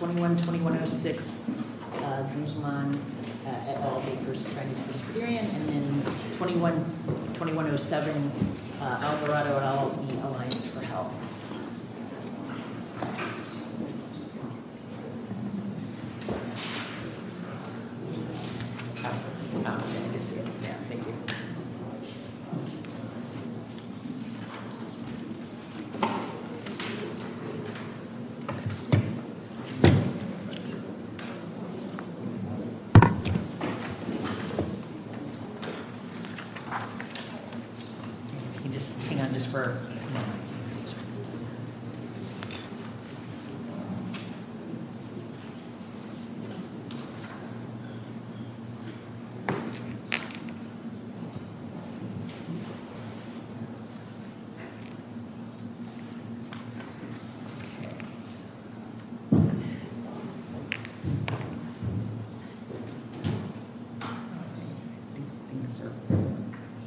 21-2106 and then 21-2107, Alvarado and I'll be aligned for help. Just hang on just for a moment.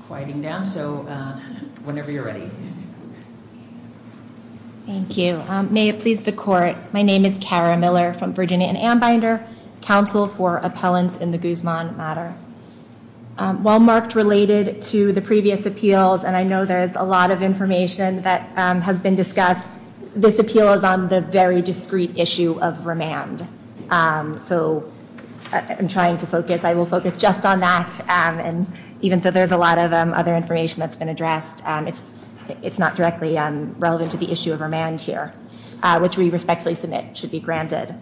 Quieting down. So whenever you're ready. Thank you. May it please the court. My name is Kara Miller from Virginia and am binder counsel for appellants in the Guzman matter. While marked related to the previous appeals, and I know there is a lot of information that has been discussed, this appeal is on the very discreet issue of remand. So I'm trying to focus. I will focus just on that. And even though there's a lot of other information that's been addressed, it's not directly relevant to the issue of remand here, which we respectfully submit should be granted.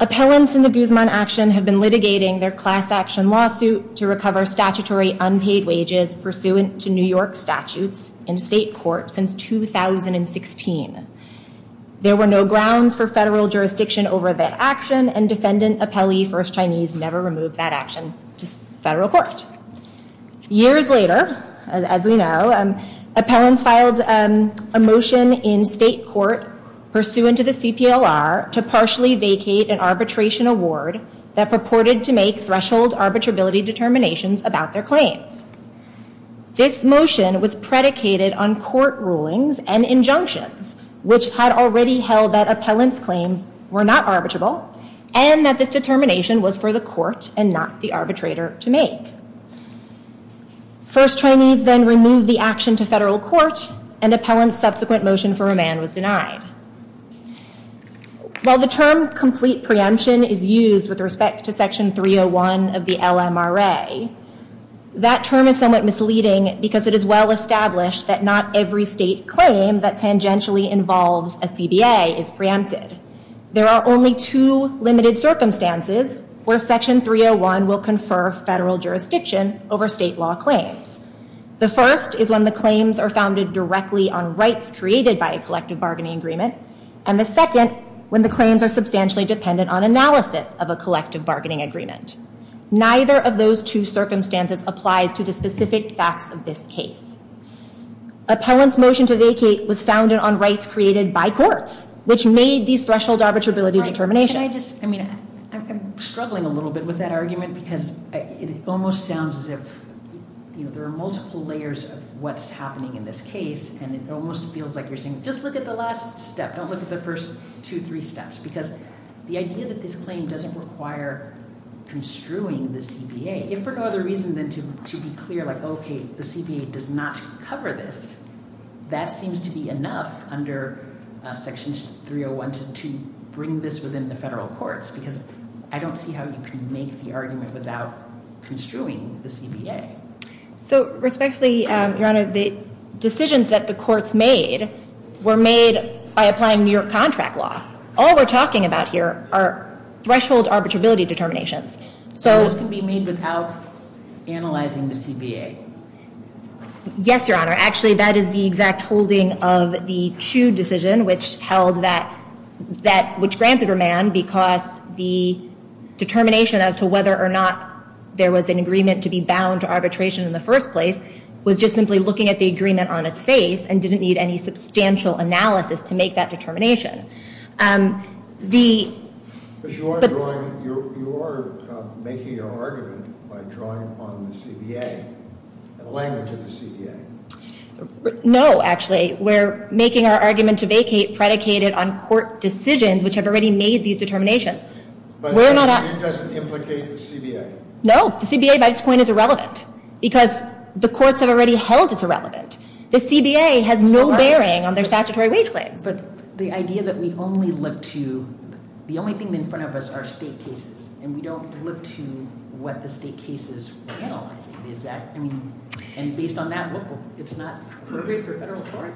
Appellants in the Guzman action have been litigating their class action lawsuit to recover statutory unpaid wages pursuant to New York statutes in state court since 2016. There were no grounds for federal jurisdiction over that action and defendant appellee first Chinese never removed that action to federal court. Years later, as we know, appellants filed a motion in state court pursuant to the CPLR to partially vacate an arbitration award that purported to make threshold arbitrability determinations about their claims. This motion was predicated on court rulings and injunctions, which had already held that appellants claims were not arbitrable and that this determination was for the court and not the arbitrator to make. First Chinese then remove the action to federal court and appellant subsequent motion for remand was denied. While the term complete preemption is used with respect to section 301 of the LMRA, that term is somewhat misleading because it is well established that not every state claim that tangentially involves a CBA is preempted. There are only two limited circumstances where section 301 will confer federal jurisdiction over state law claims. The first is when the claims are founded directly on rights created by a collective bargaining agreement and the second when the claims are substantially dependent on analysis of a collective bargaining agreement. Neither of those two circumstances applies to the specific facts of this case. Appellant's motion to vacate was founded on rights created by courts, which made these threshold arbitrability determinations. I'm struggling a little bit with that argument because it almost sounds as if there are multiple layers of what's happening in this case and it almost feels like you're saying just look at the last step. Don't look at the first two, three steps because the idea that this claim doesn't require construing the CBA. If for no other reason than to be clear like okay, the CBA does not cover this, that seems to be enough under section 301 to bring this within the federal courts because I don't see how you can make the argument without construing the CBA. So respectfully, Your Honor, the decisions that the courts made were made by applying New York contract law. All we're talking about here are threshold arbitrability determinations. Those can be made without analyzing the CBA. Yes, Your Honor. Actually, that is the exact holding of the Chu decision which held that, which granted remand because the determination as to whether or not there was an agreement to be bound to arbitration in the first place was just simply looking at the agreement on its face and didn't need any substantial analysis to make that determination. Because you are drawing, you are making your argument by drawing upon the CBA, the language of the CBA. No, actually, we're making our argument to vacate predicated on court decisions which have already made these determinations. But it doesn't implicate the CBA. No, the CBA by this point is irrelevant because the courts have already held it's irrelevant. The CBA has no bearing on their statutory wage claims. But the idea that we only look to, the only thing in front of us are state cases. And we don't look to what the state cases are analyzing. Is that, I mean, and based on that, it's not appropriate for federal court?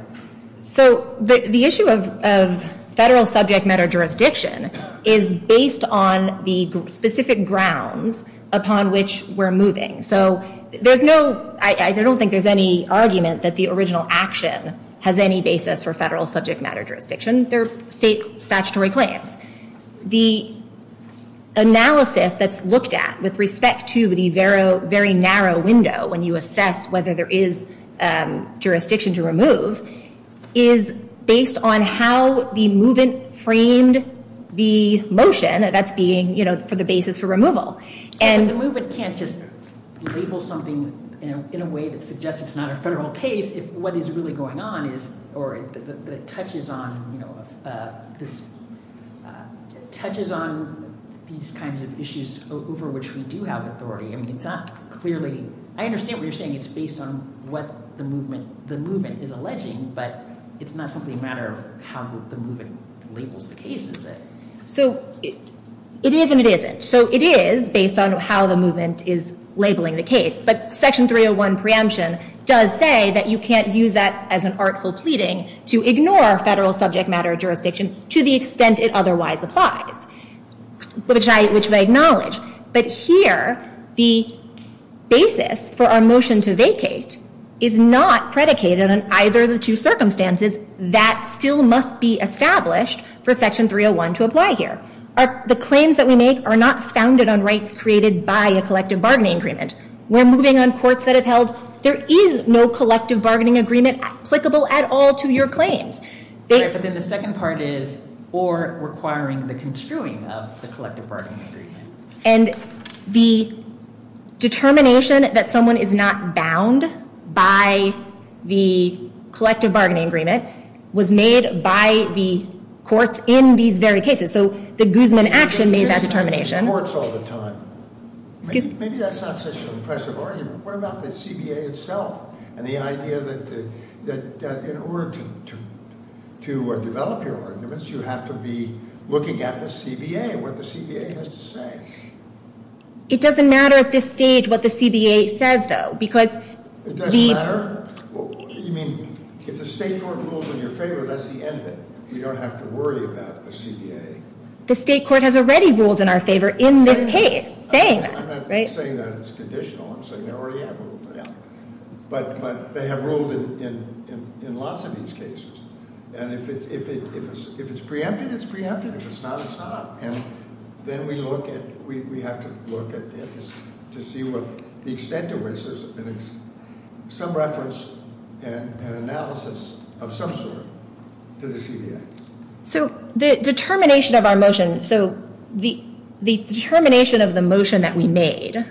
So the issue of federal subject matter jurisdiction is based on the specific grounds upon which we're moving. So there's no, I don't think there's any argument that the original action has any basis for federal subject matter jurisdiction. They're state statutory claims. The analysis that's looked at with respect to the very narrow window when you assess whether there is jurisdiction to remove is based on how the movement framed the motion. That's being, you know, for the basis for removal. But the movement can't just label something in a way that suggests it's not a federal case if what is really going on is, or that it touches on these kinds of issues over which we do have authority. I mean, it's not clearly, I understand what you're saying. It's based on what the movement is alleging. But it's not simply a matter of how the movement labels the case, is it? So it is and it isn't. So it is based on how the movement is labeling the case. But Section 301 preemption does say that you can't use that as an artful pleading to ignore federal subject matter jurisdiction to the extent it otherwise applies, which I acknowledge. But here the basis for our motion to vacate is not predicated on either of the two circumstances that still must be established for Section 301 to apply here. The claims that we make are not founded on rights created by a collective bargaining agreement. We're moving on courts that have held there is no collective bargaining agreement applicable at all to your claims. But then the second part is or requiring the construing of the collective bargaining agreement. And the determination that someone is not bound by the collective bargaining agreement was made by the courts in these very cases. So the Guzman action made that determination. Maybe that's not such an impressive argument. What about the CBA itself and the idea that in order to develop your arguments, you have to be looking at the CBA and what the CBA has to say? It doesn't matter at this stage what the CBA says, though, because- It doesn't matter? What do you mean? If the state court rules in your favor, that's the end of it. You don't have to worry about the CBA. The state court has already ruled in our favor in this case, saying that, right? I'm not saying that it's conditional. I'm saying they already have ruled in our favor. But they have ruled in lots of these cases. And if it's preempted, it's preempted. If it's not, it's not. And then we have to look to see the extent to which there's some reference and analysis of some sort to the CBA. So the determination of our motion, so the determination of the motion that we made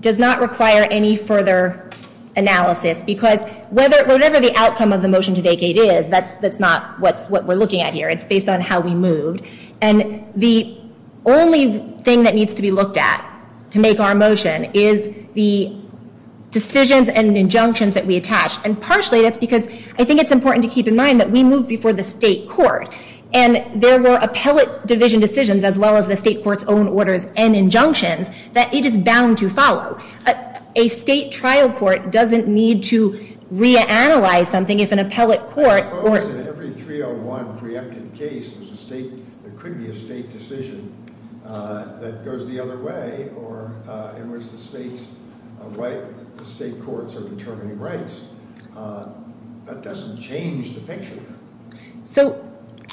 does not require any further analysis. Because whatever the outcome of the motion to vacate is, that's not what we're looking at here. It's based on how we moved. And the only thing that needs to be looked at to make our motion is the decisions and injunctions that we attach. And partially that's because I think it's important to keep in mind that we moved before the state court. And there were appellate division decisions as well as the state court's own orders and injunctions that it is bound to follow. A state trial court doesn't need to reanalyze something if an appellate court- Because in every 301 preempted case, there could be a state decision that goes the other way, or in which the state courts are determining rights. That doesn't change the picture. So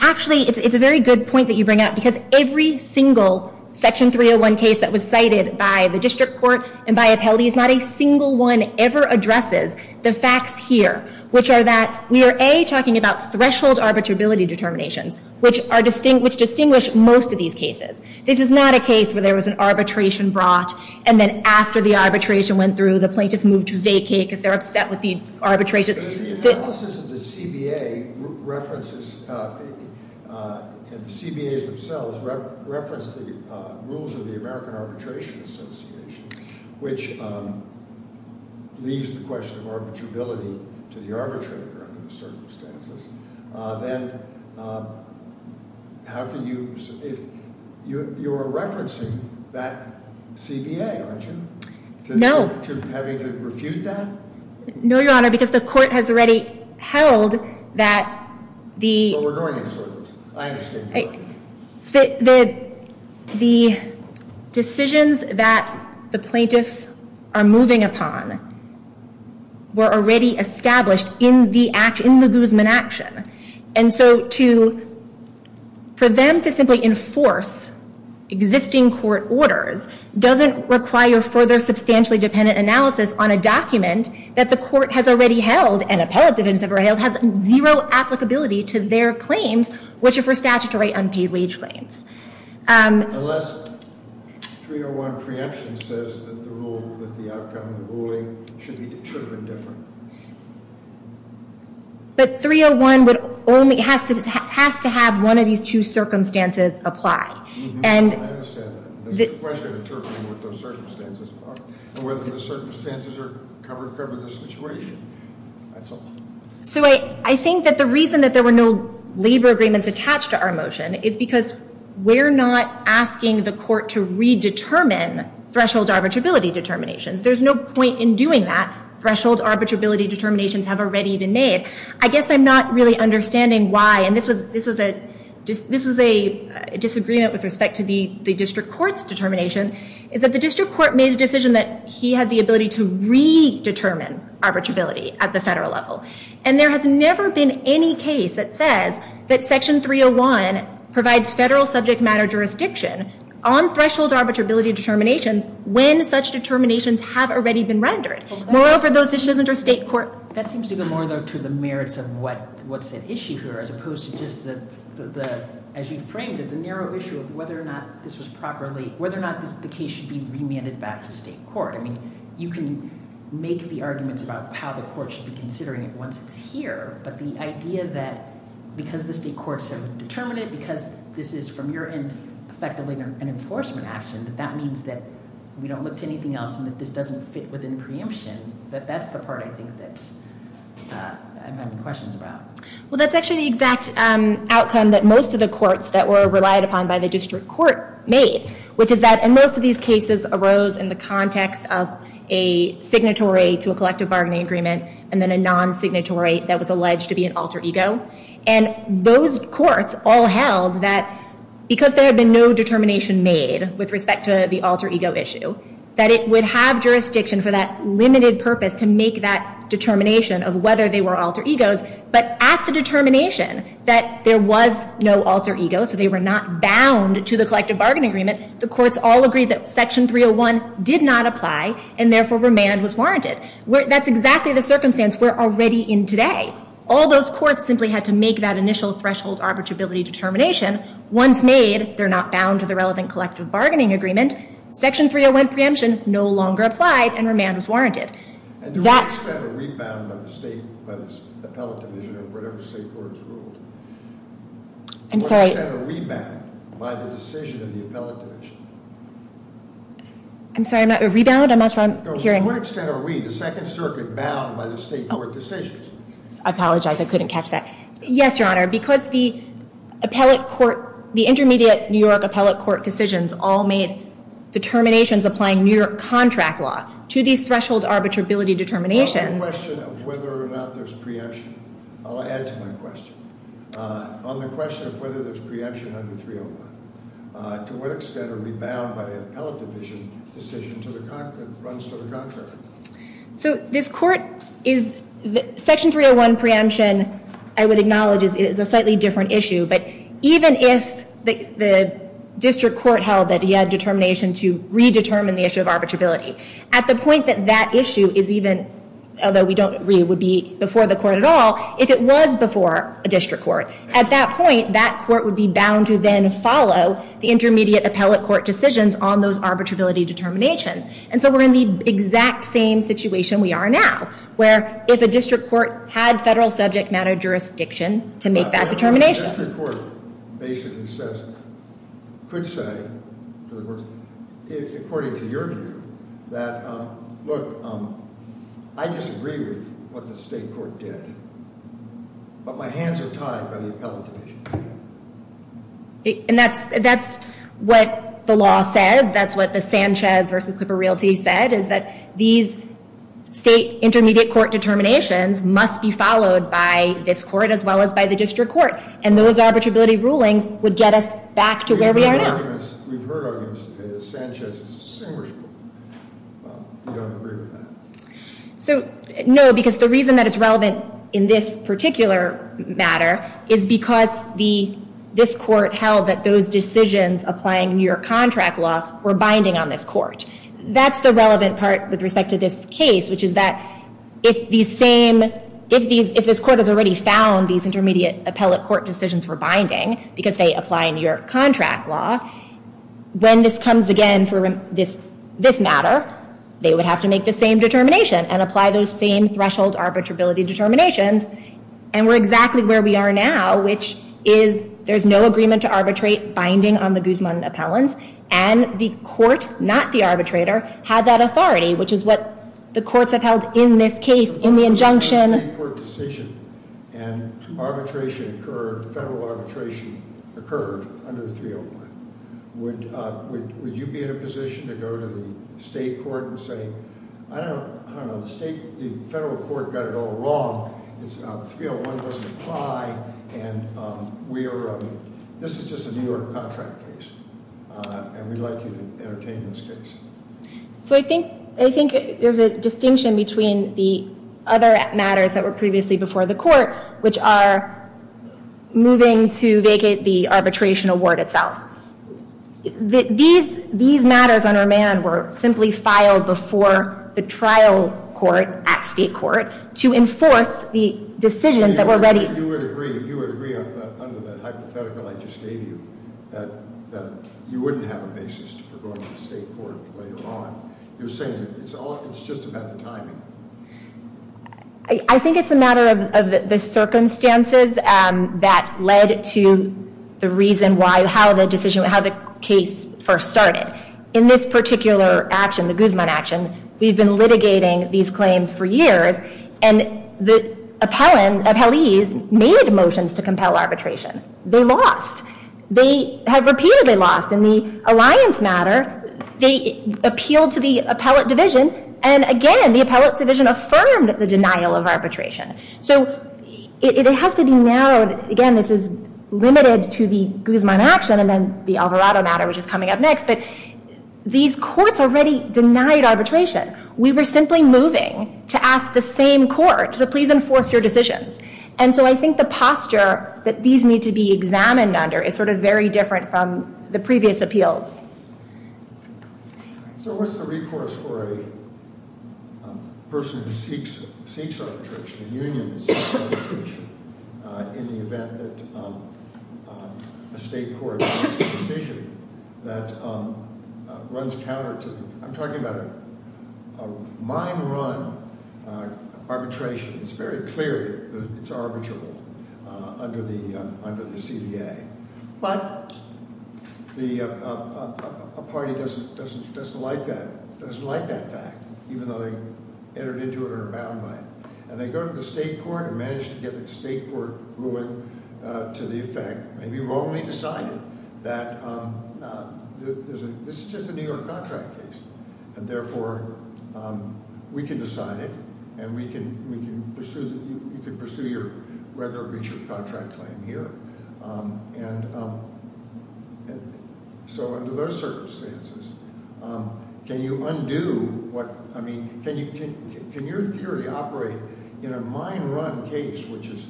actually, it's a very good point that you bring up. Because every single Section 301 case that was cited by the district court and by appellate, not a single one ever addresses the facts here, which are that we are, A, talking about threshold arbitrability determinations, which distinguish most of these cases. This is not a case where there was an arbitration brought, and then after the arbitration went through, the plaintiff moved to vacate because they're upset with the arbitration. If the CBA references, and the CBAs themselves, reference the rules of the American Arbitration Association, which leaves the question of arbitrability to the arbitrator under the circumstances, then how can you, if you are referencing that CBA, aren't you? No. To having to refute that? No, Your Honor, because the court has already held that the decisions that the plaintiffs are moving upon were already established in the Guzman action. And so for them to simply enforce existing court orders doesn't require further substantially dependent analysis on a document that the court has already held, and appellate defendants have already held, has zero applicability to their claims, which are for statutory unpaid wage claims. Unless 301 preemption says that the outcome of the ruling should have been different. But 301 has to have one of these two circumstances apply. I understand that. The question is determining what those circumstances are, and whether those circumstances cover the situation. That's all. So I think that the reason that there were no labor agreements attached to our motion is because we're not asking the court to redetermine threshold arbitrability determinations. There's no point in doing that. Threshold arbitrability determinations have already been made. I guess I'm not really understanding why, and this was a disagreement with respect to the district court's determination, is that the district court made the decision that he had the ability to redetermine arbitrability at the federal level. And there has never been any case that says that Section 301 provides federal subject matter jurisdiction on threshold arbitrability determinations when such determinations have already been rendered. Moreover, those decisions under state court. That seems to go more, though, to the merits of what's at issue here, as opposed to just the, as you framed it, the narrow issue of whether or not this was properly, whether or not the case should be remanded back to state court. I mean, you can make the arguments about how the court should be considering it once it's here, but the idea that because the state courts have determined it, because this is, from your end, effectively an enforcement action, that that means that we don't look to anything else and that this doesn't fit within preemption, that that's the part I think that I'm having questions about. Well, that's actually the exact outcome that most of the courts that were relied upon by the district court made, which is that in most of these cases arose in the context of a signatory to a collective bargaining agreement and then a non-signatory that was alleged to be an alter ego. And those courts all held that because there had been no determination made with respect to the alter ego issue, that it would have jurisdiction for that limited purpose to make that determination of whether they were alter egos. But at the determination that there was no alter ego, so they were not bound to the collective bargaining agreement, the courts all agreed that Section 301 did not apply and therefore remand was warranted. That's exactly the circumstance we're already in today. All those courts simply had to make that initial threshold arbitrability determination. Once made, they're not bound to the relevant collective bargaining agreement. Section 301 preemption no longer applied and remand was warranted. And to what extent are we bound by the state, by the appellate division or whatever state court has ruled? I'm sorry. To what extent are we bound by the decision of the appellate division? I'm sorry, I'm not, rebound? I'm not sure I'm hearing. No, to what extent are we, the Second Circuit, bound by the state court decisions? I apologize, I couldn't catch that. Yes, Your Honor. Because the appellate court, the intermediate New York appellate court decisions all made determinations applying New York contract law to these threshold arbitrability determinations. On the question of whether or not there's preemption, I'll add to my question. On the question of whether there's preemption under 301, to what extent are we bound by the appellate division decision to the contract, runs to the contract? So this court is, Section 301 preemption, I would acknowledge is a slightly different issue. But even if the district court held that he had determination to redetermine the issue of arbitrability, at the point that that issue is even, although we don't agree it would be before the court at all, if it was before a district court, at that point, that court would be bound to then follow the intermediate appellate court decisions on those arbitrability determinations. And so we're in the exact same situation we are now, where if a district court had federal subject matter jurisdiction to make that determination. But a district court basically says, could say, according to your view, that look, I disagree with what the state court did, but my hands are tied by the appellate division. And that's what the law says, that's what the Sanchez versus Clipper Realty said, is that these state intermediate court determinations must be followed by this court as well as by the district court. And those arbitrability rulings would get us back to where we are now. We've heard arguments that Sanchez is distinguishable, but we don't agree with that. So, no, because the reason that it's relevant in this particular matter, is because this court held that those decisions applying New York contract law were binding on this court. That's the relevant part with respect to this case, which is that if these same, if this court has already found these intermediate appellate court decisions were binding, because they apply New York contract law, when this comes again for this matter, they would have to make the same determination and apply those same threshold arbitrability determinations. And we're exactly where we are now, which is there's no agreement to arbitrate binding on the Guzman appellants. And the court, not the arbitrator, had that authority, which is what the courts have held in this case, in the injunction. And arbitration occurred, federal arbitration occurred under 301. Would you be in a position to go to the state court and say, I don't know, the state, the federal court got it all wrong. It's 301 doesn't apply and we are, this is just a New York contract case. And we'd like you to entertain this case. So I think there's a distinction between the other matters that were previously before the court, which are moving to vacate the arbitration award itself. These matters under man were simply filed before the trial court at state court to enforce the decisions that were ready. You would agree under the hypothetical I just gave you that you wouldn't have a basis for going to the state court later on. You're saying it's just about the timing. I think it's a matter of the circumstances that led to the reason why, how the decision, how the case first started. In this particular action, the Guzman action, we've been litigating these claims for years. And the appellees made motions to compel arbitration. They lost. They have repeatedly lost. In the alliance matter, they appealed to the appellate division. And again, the appellate division affirmed the denial of arbitration. So it has to be narrowed. Again, this is limited to the Guzman action and then the Alvarado matter, which is coming up next. But these courts already denied arbitration. We were simply moving to ask the same court to please enforce your decisions. And so I think the posture that these need to be examined under is sort of very different from the previous appeals. So what's the recourse for a person who seeks arbitration, a union that seeks arbitration, in the event that a state court makes a decision that runs counter to them? I'm talking about a mine run arbitration. It's very clear that it's arbitrable under the CBA. But a party doesn't like that fact, even though they entered into it or are bound by it. And they go to the state court and manage to get the state court ruling to the effect, maybe wrongly decided that this is just a New York contract case. And therefore, we can decide it, and we can pursue, you can pursue your regular breach of contract claim here. And so under those circumstances, can you undo what, I mean, can your theory operate in a mine run case, which is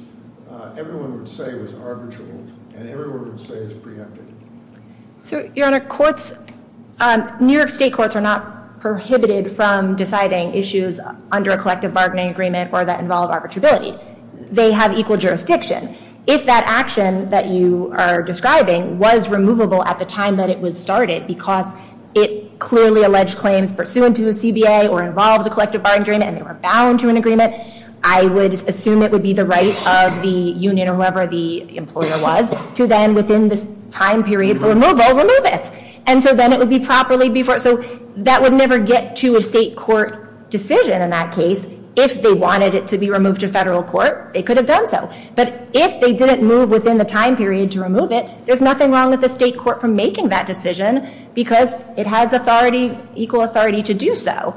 everyone would say was arbitral, and everyone would say it's preempted? So, Your Honor, courts, New York state courts are not prohibited from deciding issues under a collective bargaining agreement or that involve arbitrability. They have equal jurisdiction. If that action that you are describing was removable at the time that it was started, because it clearly alleged claims pursuant to the CBA or involved a collective bargaining agreement, and they were bound to an agreement, I would assume it would be the right of the union or whoever the employer was to then, within this time period for removal, remove it. And so then it would be properly before, so that would never get to a state court decision in that case. If they wanted it to be removed to federal court, they could have done so. But if they didn't move within the time period to remove it, there's nothing wrong with the state court from making that decision because it has equal authority to do so.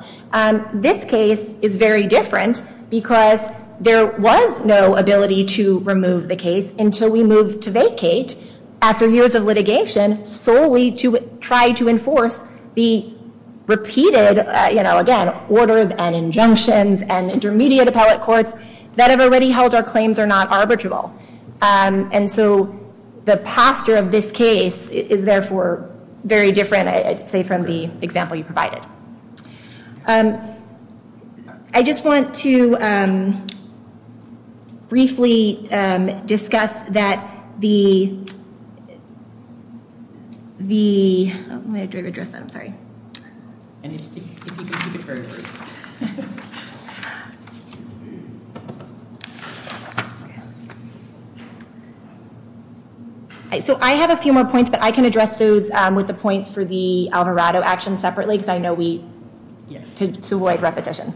This case is very different because there was no ability to remove the case until we moved to vacate after years of litigation solely to try to enforce the repeated, again, orders and injunctions and intermediate appellate courts that have already held our claims are not arbitrable. And so the posture of this case is, therefore, very different, I'd say, from the example you provided. I just want to briefly discuss that the— Let me address that. I'm sorry. So I have a few more points, but I can address those with the points for the Alvarado action separately, because I know we tend to avoid repetition.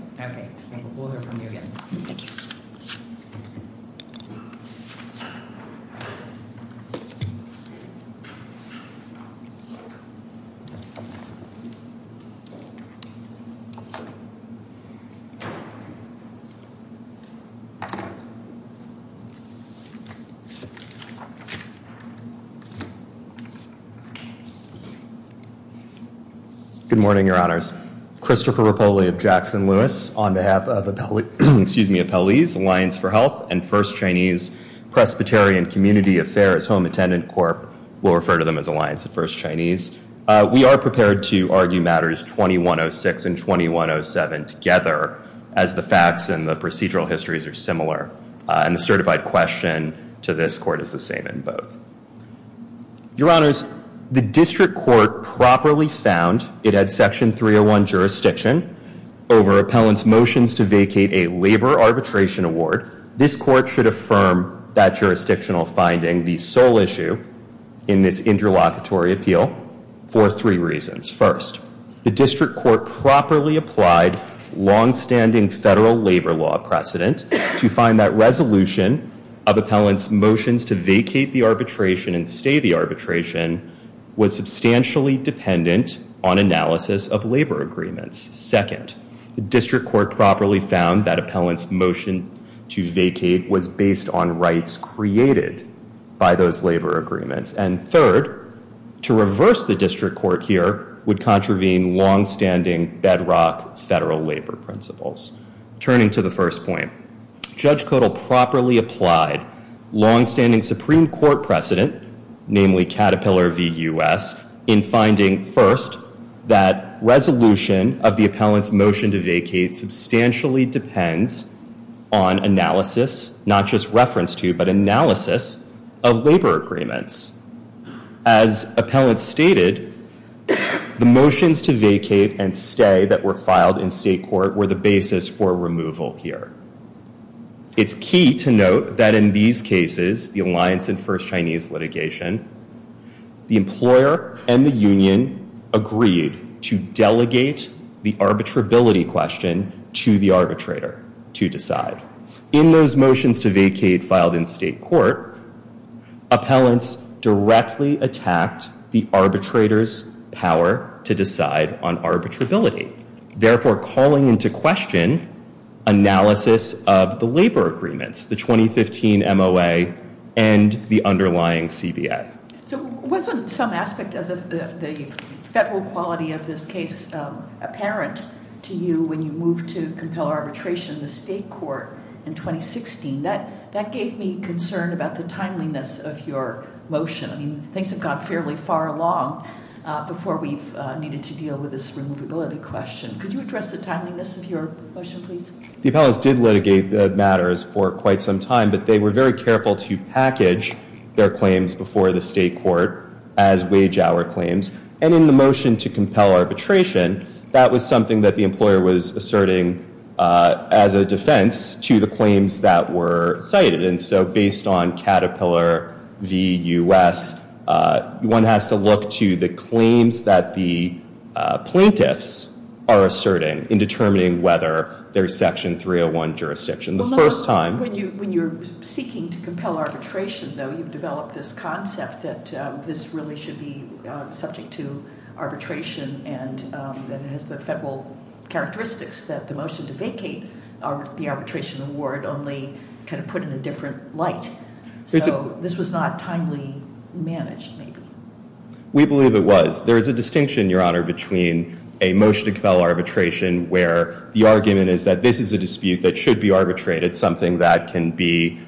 Good morning, Your Honors. Christopher Rapoli of Jackson Lewis on behalf of Appellees Alliance for Health and First Chinese Presbyterian Community Affairs Home Attendant Corp. We'll refer to them as Alliance of First Chinese. We are prepared to argue matters 2106 and 2107 together as the facts and the procedural histories are similar. And the certified question to this court is the same in both. Your Honors, the district court properly found it had Section 301 jurisdiction over appellant's motions to vacate a labor arbitration award. This court should affirm that jurisdictional finding the sole issue in this interlocutory appeal for three reasons. First, the district court properly applied longstanding federal labor law precedent to find that resolution of appellant's motions to vacate the arbitration and stay the arbitration was substantially dependent on analysis of labor agreements. Second, the district court properly found that appellant's motion to vacate was based on rights created by those labor agreements. And third, to reverse the district court here would contravene longstanding bedrock federal labor principles. Turning to the first point, Judge Codal properly applied longstanding Supreme Court precedent, namely Caterpillar v. U.S., in finding, first, that resolution of the appellant's motion to vacate substantially depends on analysis, not just reference to, but analysis of labor agreements. As appellant stated, the motions to vacate and stay that were filed in state court were the basis for removal here. It's key to note that in these cases, the alliance in first Chinese litigation, the employer and the union agreed to delegate the arbitrability question to the arbitrator to decide. In those motions to vacate filed in state court, appellants directly attacked the arbitrator's power to decide on arbitrability, therefore calling into question analysis of the labor agreements, the 2015 MOA and the underlying CBA. So wasn't some aspect of the federal quality of this case apparent to you when you moved to compel arbitration in the state court in 2016? That gave me concern about the timeliness of your motion. I mean, things have gone fairly far along before we've needed to deal with this removability question. Could you address the timeliness of your motion, please? The appellants did litigate the matters for quite some time, but they were very careful to package their claims before the state court as wage hour claims. And in the motion to compel arbitration, that was something that the employer was asserting as a defense to the claims that were cited. And so based on Caterpillar v. US, one has to look to the claims that the plaintiffs are asserting in determining whether there's Section 301 jurisdiction. The first time- When you're seeking to compel arbitration, though, you've developed this concept that this really should be subject to arbitration, and it has the federal characteristics that the motion to vacate the arbitration award only kind of put in a different light. So this was not timely managed, maybe. We believe it was. There is a distinction, Your Honor, between a motion to compel arbitration, where the argument is that this is a dispute that should be arbitrated, something that can be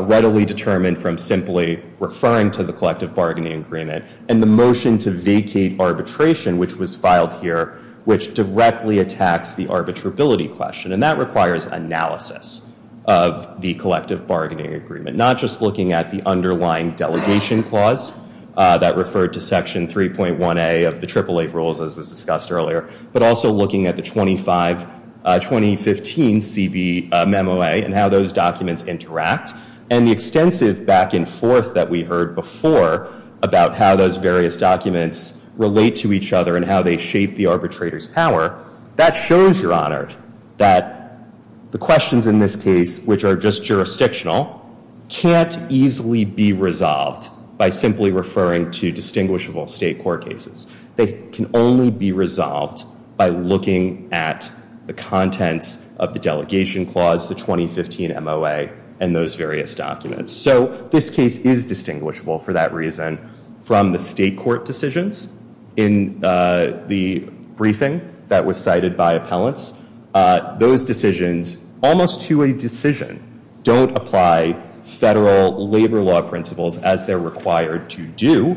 readily determined from simply referring to the collective bargaining agreement, and the motion to vacate arbitration, which was filed here, which directly attacks the arbitrability question. And that requires analysis of the collective bargaining agreement, not just looking at the underlying delegation clause that referred to Section 3.1A of the Triple Eight Rules, as was discussed earlier, but also looking at the 2015 CB memo, and how those documents interact, and the extensive back and forth that we heard before about how those various documents relate to each other and how they shape the arbitrator's power. That shows, Your Honor, that the questions in this case, which are just jurisdictional, can't easily be resolved by simply referring to distinguishable state court cases. They can only be resolved by looking at the contents of the delegation clause, the 2015 MOA, and those various documents. So this case is distinguishable, for that reason, from the state court decisions. In the briefing that was cited by appellants, those decisions, almost to a decision, don't apply federal labor law principles as they're required to do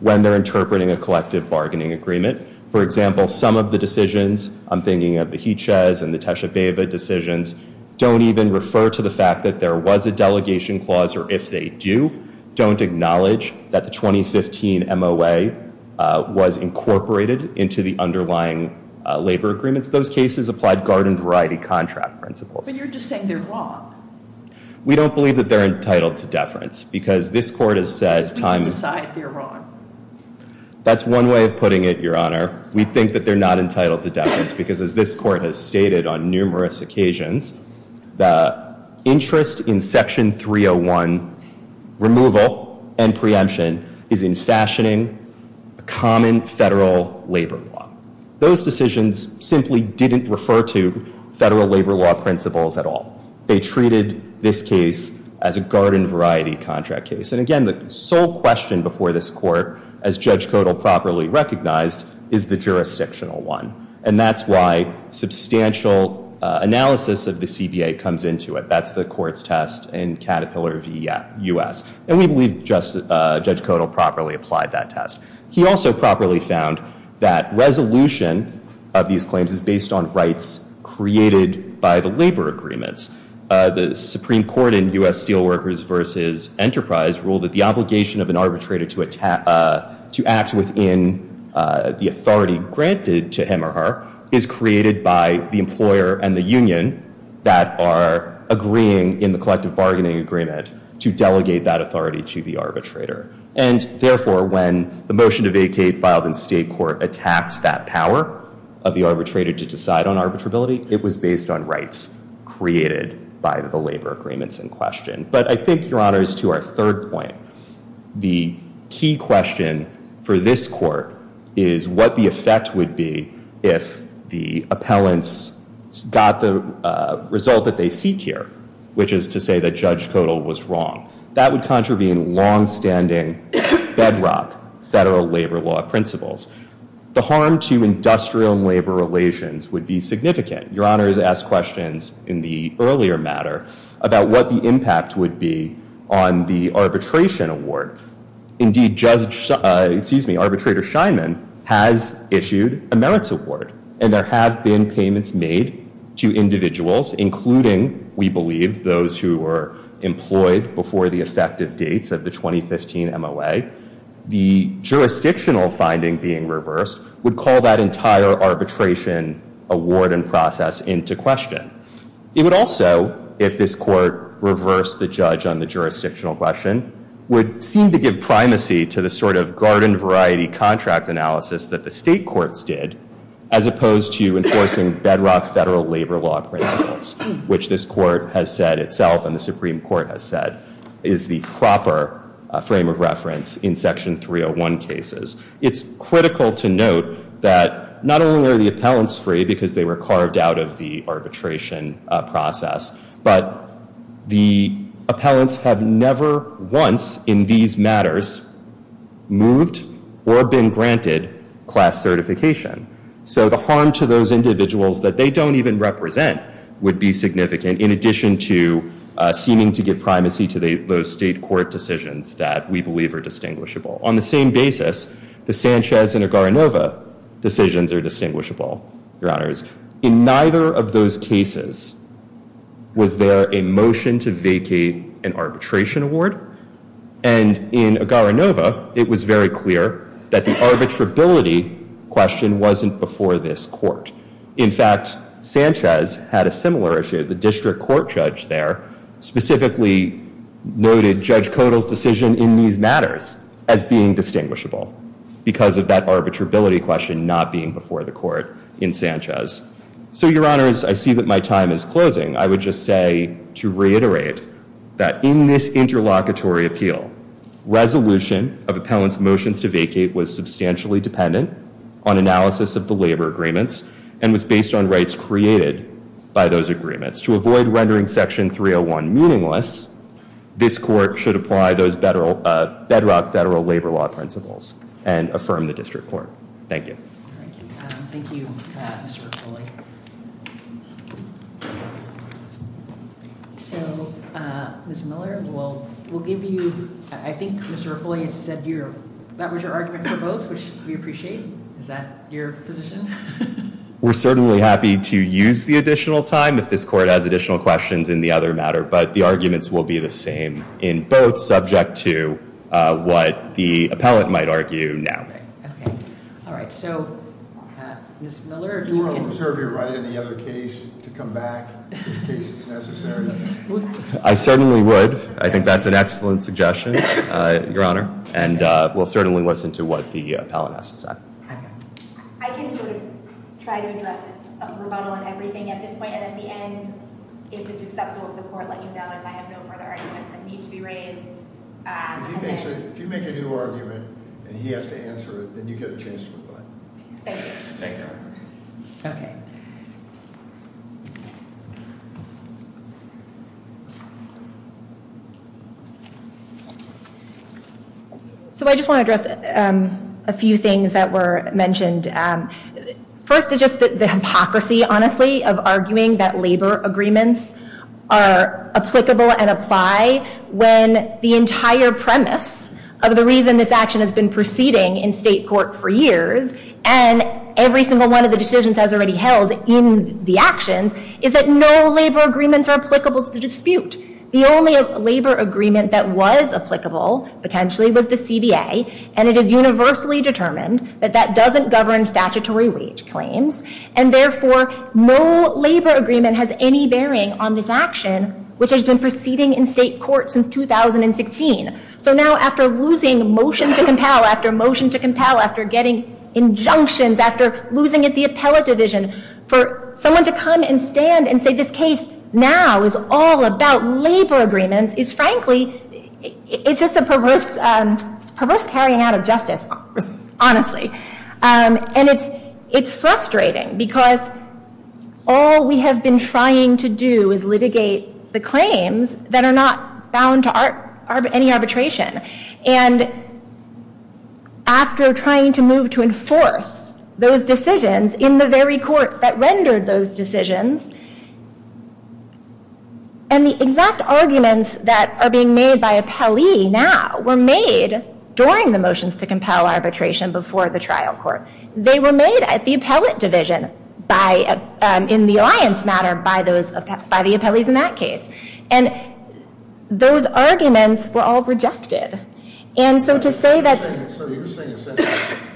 when they're interpreting a collective bargaining agreement. For example, some of the decisions, I'm thinking of the Hiches and the Techeva decisions, don't even refer to the fact that there was a delegation clause, or if they do, don't acknowledge that the 2015 MOA was incorporated into the underlying labor agreements. Those cases applied garden-variety contract principles. But you're just saying they're wrong. We don't believe that they're entitled to deference, because this Court has said time and time again. But we can decide they're wrong. That's one way of putting it, Your Honor. We think that they're not entitled to deference, because as this Court has stated on numerous occasions, the interest in Section 301 removal and preemption is in fashioning a common federal labor law. Those decisions simply didn't refer to federal labor law principles at all. They treated this case as a garden-variety contract case. And again, the sole question before this Court, as Judge Kodal properly recognized, is the jurisdictional one. And that's why substantial analysis of the CBA comes into it. That's the Court's test in Caterpillar v. U.S. And we believe Judge Kodal properly applied that test. He also properly found that resolution of these claims is based on rights created by the labor agreements. The Supreme Court in U.S. Steelworkers v. Enterprise ruled that the obligation of an arbitrator to act within the authority granted to him or her is created by the employer and the union that are agreeing in the collective bargaining agreement to delegate that authority to the arbitrator. And therefore, when the motion to vacate filed in state court attacked that power of the arbitrator to decide on arbitrability, it was based on rights created by the labor agreements in question. But I think, Your Honors, to our third point, the key question for this Court is what the effect would be if the appellants got the result that they seek here, which is to say that Judge Kodal was wrong. That would contravene longstanding bedrock federal labor law principles. The harm to industrial and labor relations would be significant. Your Honors asked questions in the earlier matter about what the impact would be on the arbitration award. Indeed, Arbitrator Scheinman has issued a merits award, and there have been payments made to individuals, including, we believe, those who were employed before the effective dates of the 2015 MOA. The jurisdictional finding being reversed would call that entire arbitration award and process into question. It would also, if this Court reversed the judge on the jurisdictional question, would seem to give primacy to the sort of garden-variety contract analysis that the state courts did as opposed to enforcing bedrock federal labor law principles, which this Court has said itself, and the Supreme Court has said, is the proper frame of reference in Section 301 cases. It's critical to note that not only are the appellants free because they were carved out of the arbitration process, but the appellants have never once in these matters moved or been granted class certification. So the harm to those individuals that they don't even represent would be significant, in addition to seeming to give primacy to those state court decisions that we believe are distinguishable. On the same basis, the Sanchez and Agarinova decisions are distinguishable, Your Honors. In neither of those cases was there a motion to vacate an arbitration award. And in Agarinova, it was very clear that the arbitrability question wasn't before this Court. In fact, Sanchez had a similar issue. The district court judge there specifically noted Judge Kodal's decision in these matters as being distinguishable because of that arbitrability question not being before the Court in Sanchez. So, Your Honors, I see that my time is closing. I would just say to reiterate that in this interlocutory appeal, resolution of appellants' motions to vacate was substantially dependent on analysis of the labor agreements and was based on rights created by those agreements. To avoid rendering Section 301 meaningless, this Court should apply those bedrock federal labor law principles and affirm the district court. Thank you. Thank you, Mr. Ruffoli. So, Ms. Miller, I think Mr. Ruffoli said that was your argument for both, which we appreciate. Is that your position? We're certainly happy to use the additional time if this Court has additional questions in the other matter, but the arguments will be the same in both, subject to what the appellant might argue now. Okay. All right. So, Ms. Miller, if you can- Do you want to reserve your right in the other case to come back in case it's necessary? I certainly would. I think that's an excellent suggestion, Your Honor, and we'll certainly listen to what the appellant has to say. Okay. I can sort of try to address a rebuttal on everything at this point, and at the end, if it's acceptable, the Court will let you know if I have no further arguments that need to be raised. If you make a new argument and he has to answer it, then you get a chance to rebut. Thank you. Thank you. Okay. Thank you. So I just want to address a few things that were mentioned. First is just the hypocrisy, honestly, of arguing that labor agreements are applicable and apply when the entire premise of the reason this action has been proceeding in state court for years and every single one of the decisions has already held in the actions, is that no labor agreements are applicable to the dispute. The only labor agreement that was applicable, potentially, was the CBA, and it is universally determined that that doesn't govern statutory wage claims, and therefore no labor agreement has any bearing on this action, which has been proceeding in state court since 2016. So now after losing motion to compel, after motion to compel, after getting injunctions, after losing at the appellate division, for someone to come and stand and say this case now is all about labor agreements is frankly, it's just a perverse carrying out of justice, honestly. And it's frustrating because all we have been trying to do is litigate the claims that are not bound to any arbitration, and after trying to move to enforce those decisions in the very court that rendered those decisions, and the exact arguments that are being made by appellee now were made during the motions to compel arbitration before the trial court. They were made at the appellate division in the alliance matter by the appellees in that case. And those arguments were all rejected. And so to say that- So you're saying essentially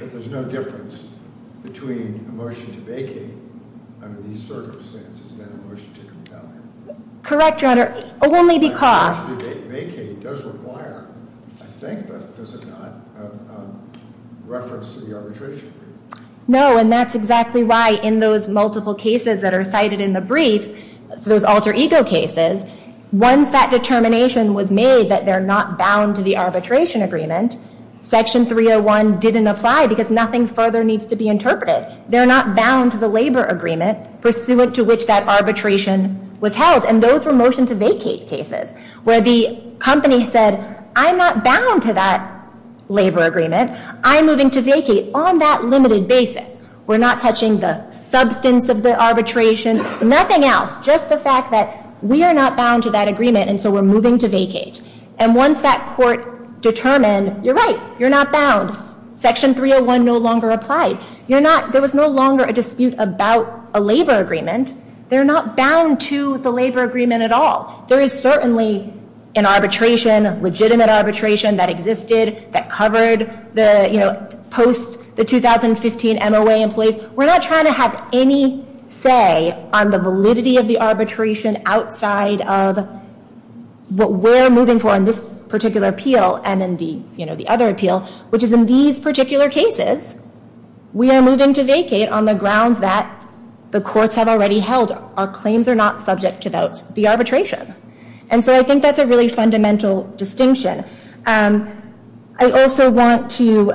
that there's no difference between a motion to vacate under these circumstances than a motion to compel? Correct, Your Honor, only because- A motion to vacate does require, I think, but does it not, a reference to the arbitration brief? No, and that's exactly why in those multiple cases that are cited in the briefs, those alter ego cases, once that determination was made that they're not bound to the arbitration agreement, section 301 didn't apply because nothing further needs to be interpreted. They're not bound to the labor agreement pursuant to which that arbitration was held, and those were motion to vacate cases where the company said, I'm not bound to that labor agreement. I'm moving to vacate on that limited basis. We're not touching the substance of the arbitration, nothing else, just the fact that we are not bound to that agreement, and so we're moving to vacate. And once that court determined, you're right, you're not bound, section 301 no longer applied. There was no longer a dispute about a labor agreement. They're not bound to the labor agreement at all. There is certainly an arbitration, legitimate arbitration that existed, that covered the, you know, post the 2015 MOA in place. We're not trying to have any say on the validity of the arbitration outside of what we're moving for in this particular appeal and in the, you know, the other appeal, which is in these particular cases, we are moving to vacate on the grounds that the courts have already held. Our claims are not subject to the arbitration. And so I think that's a really fundamental distinction. I also want to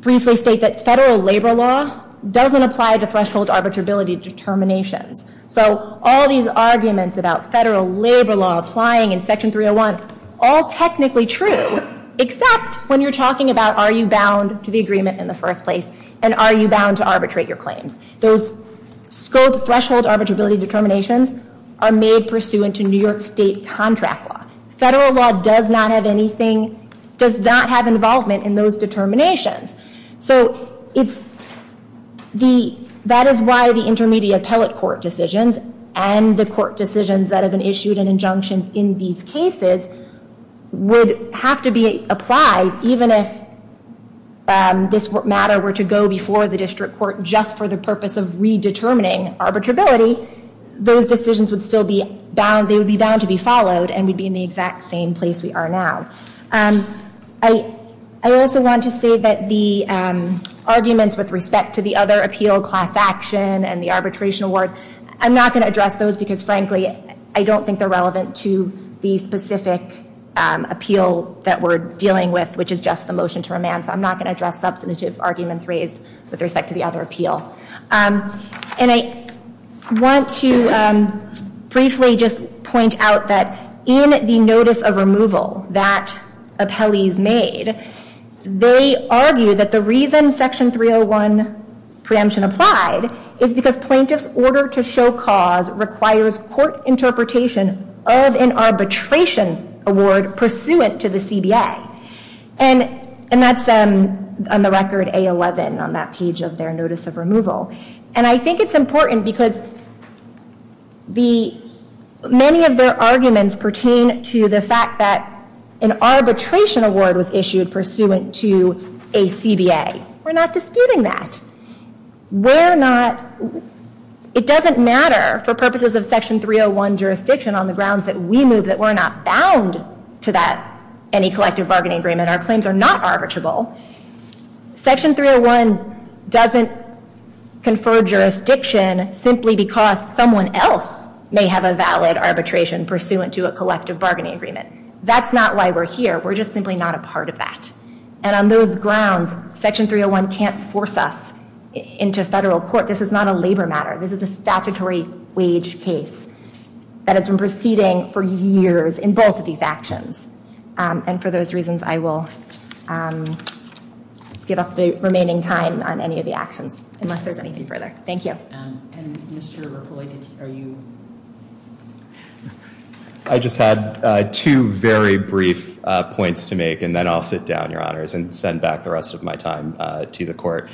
briefly state that federal labor law doesn't apply to threshold arbitrability determinations. So all these arguments about federal labor law applying in section 301, all technically true, except when you're talking about are you bound to the agreement in the first place and are you bound to arbitrate your claims. Those scope threshold arbitrability determinations are made pursuant to New York State contract law. Federal law does not have anything, does not have involvement in those determinations. So it's the, that is why the intermediate appellate court decisions and the court decisions that have been issued and injunctions in these cases would have to be applied, even if this matter were to go before the district court just for the purpose of redetermining arbitrability, those decisions would still be bound, they would be bound to be followed and we'd be in the exact same place we are now. I also want to say that the arguments with respect to the other appeal, class action and the arbitration award, I'm not going to address those because frankly I don't think they're relevant to the specific appeal that we're dealing with, which is just the motion to remand, so I'm not going to address substantive arguments raised with respect to the other appeal. And I want to briefly just point out that in the notice of removal that appellees made, they argue that the reason section 301 preemption applied is because plaintiff's order to show cause requires court interpretation of an arbitration award pursuant to the CBA. And that's on the record A11 on that page of their notice of removal. And I think it's important because many of their arguments pertain to the fact that an arbitration award was issued pursuant to a CBA. We're not disputing that. It doesn't matter for purposes of section 301 jurisdiction on the grounds that we move that we're not bound to any collective bargaining agreement. Our claims are not arbitrable. Section 301 doesn't confer jurisdiction simply because someone else may have a valid arbitration pursuant to a collective bargaining agreement. That's not why we're here. We're just simply not a part of that. And on those grounds, section 301 can't force us into federal court. This is not a labor matter. This is a statutory wage case that has been proceeding for years in both of these actions. And for those reasons, I will give up the remaining time on any of the actions, unless there's anything further. Thank you. And Mr. Rapule, are you? I just had two very brief points to make, and then I'll sit down, Your Honors, and send back the rest of my time to the court.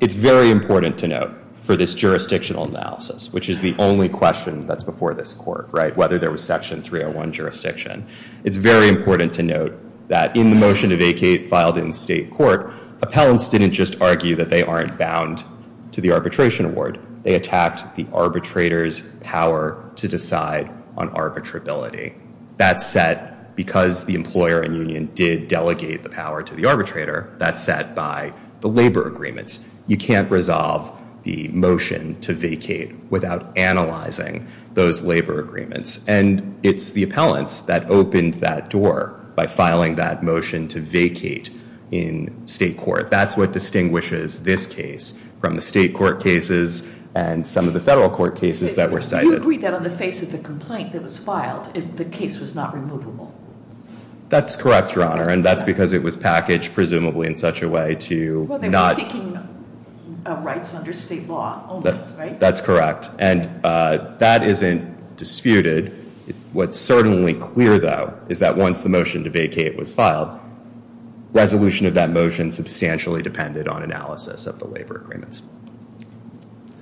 It's very important to note for this jurisdictional analysis, which is the only question that's before this court, whether there was section 301 jurisdiction, it's very important to note that in the motion to vacate filed in state court, appellants didn't just argue that they aren't bound to the arbitration award. They attacked the arbitrator's power to decide on arbitrability. That's set, because the employer and union did delegate the power to the arbitrator, that's set by the labor agreements. You can't resolve the motion to vacate without analyzing those labor agreements. And it's the appellants that opened that door by filing that motion to vacate in state court. That's what distinguishes this case from the state court cases and some of the federal court cases that were cited. You agreed that on the face of the complaint that was filed, the case was not removable. That's correct, Your Honor, and that's because it was packaged, presumably, in such a way to not- Well, they were seeking rights under state law only, right? That's correct, and that isn't disputed. What's certainly clear, though, is that once the motion to vacate was filed, resolution of that motion substantially depended on analysis of the labor agreements.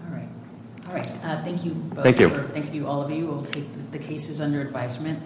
All right. All right, thank you both. Thank you. Thank you, all of you. We'll take the cases under advisement.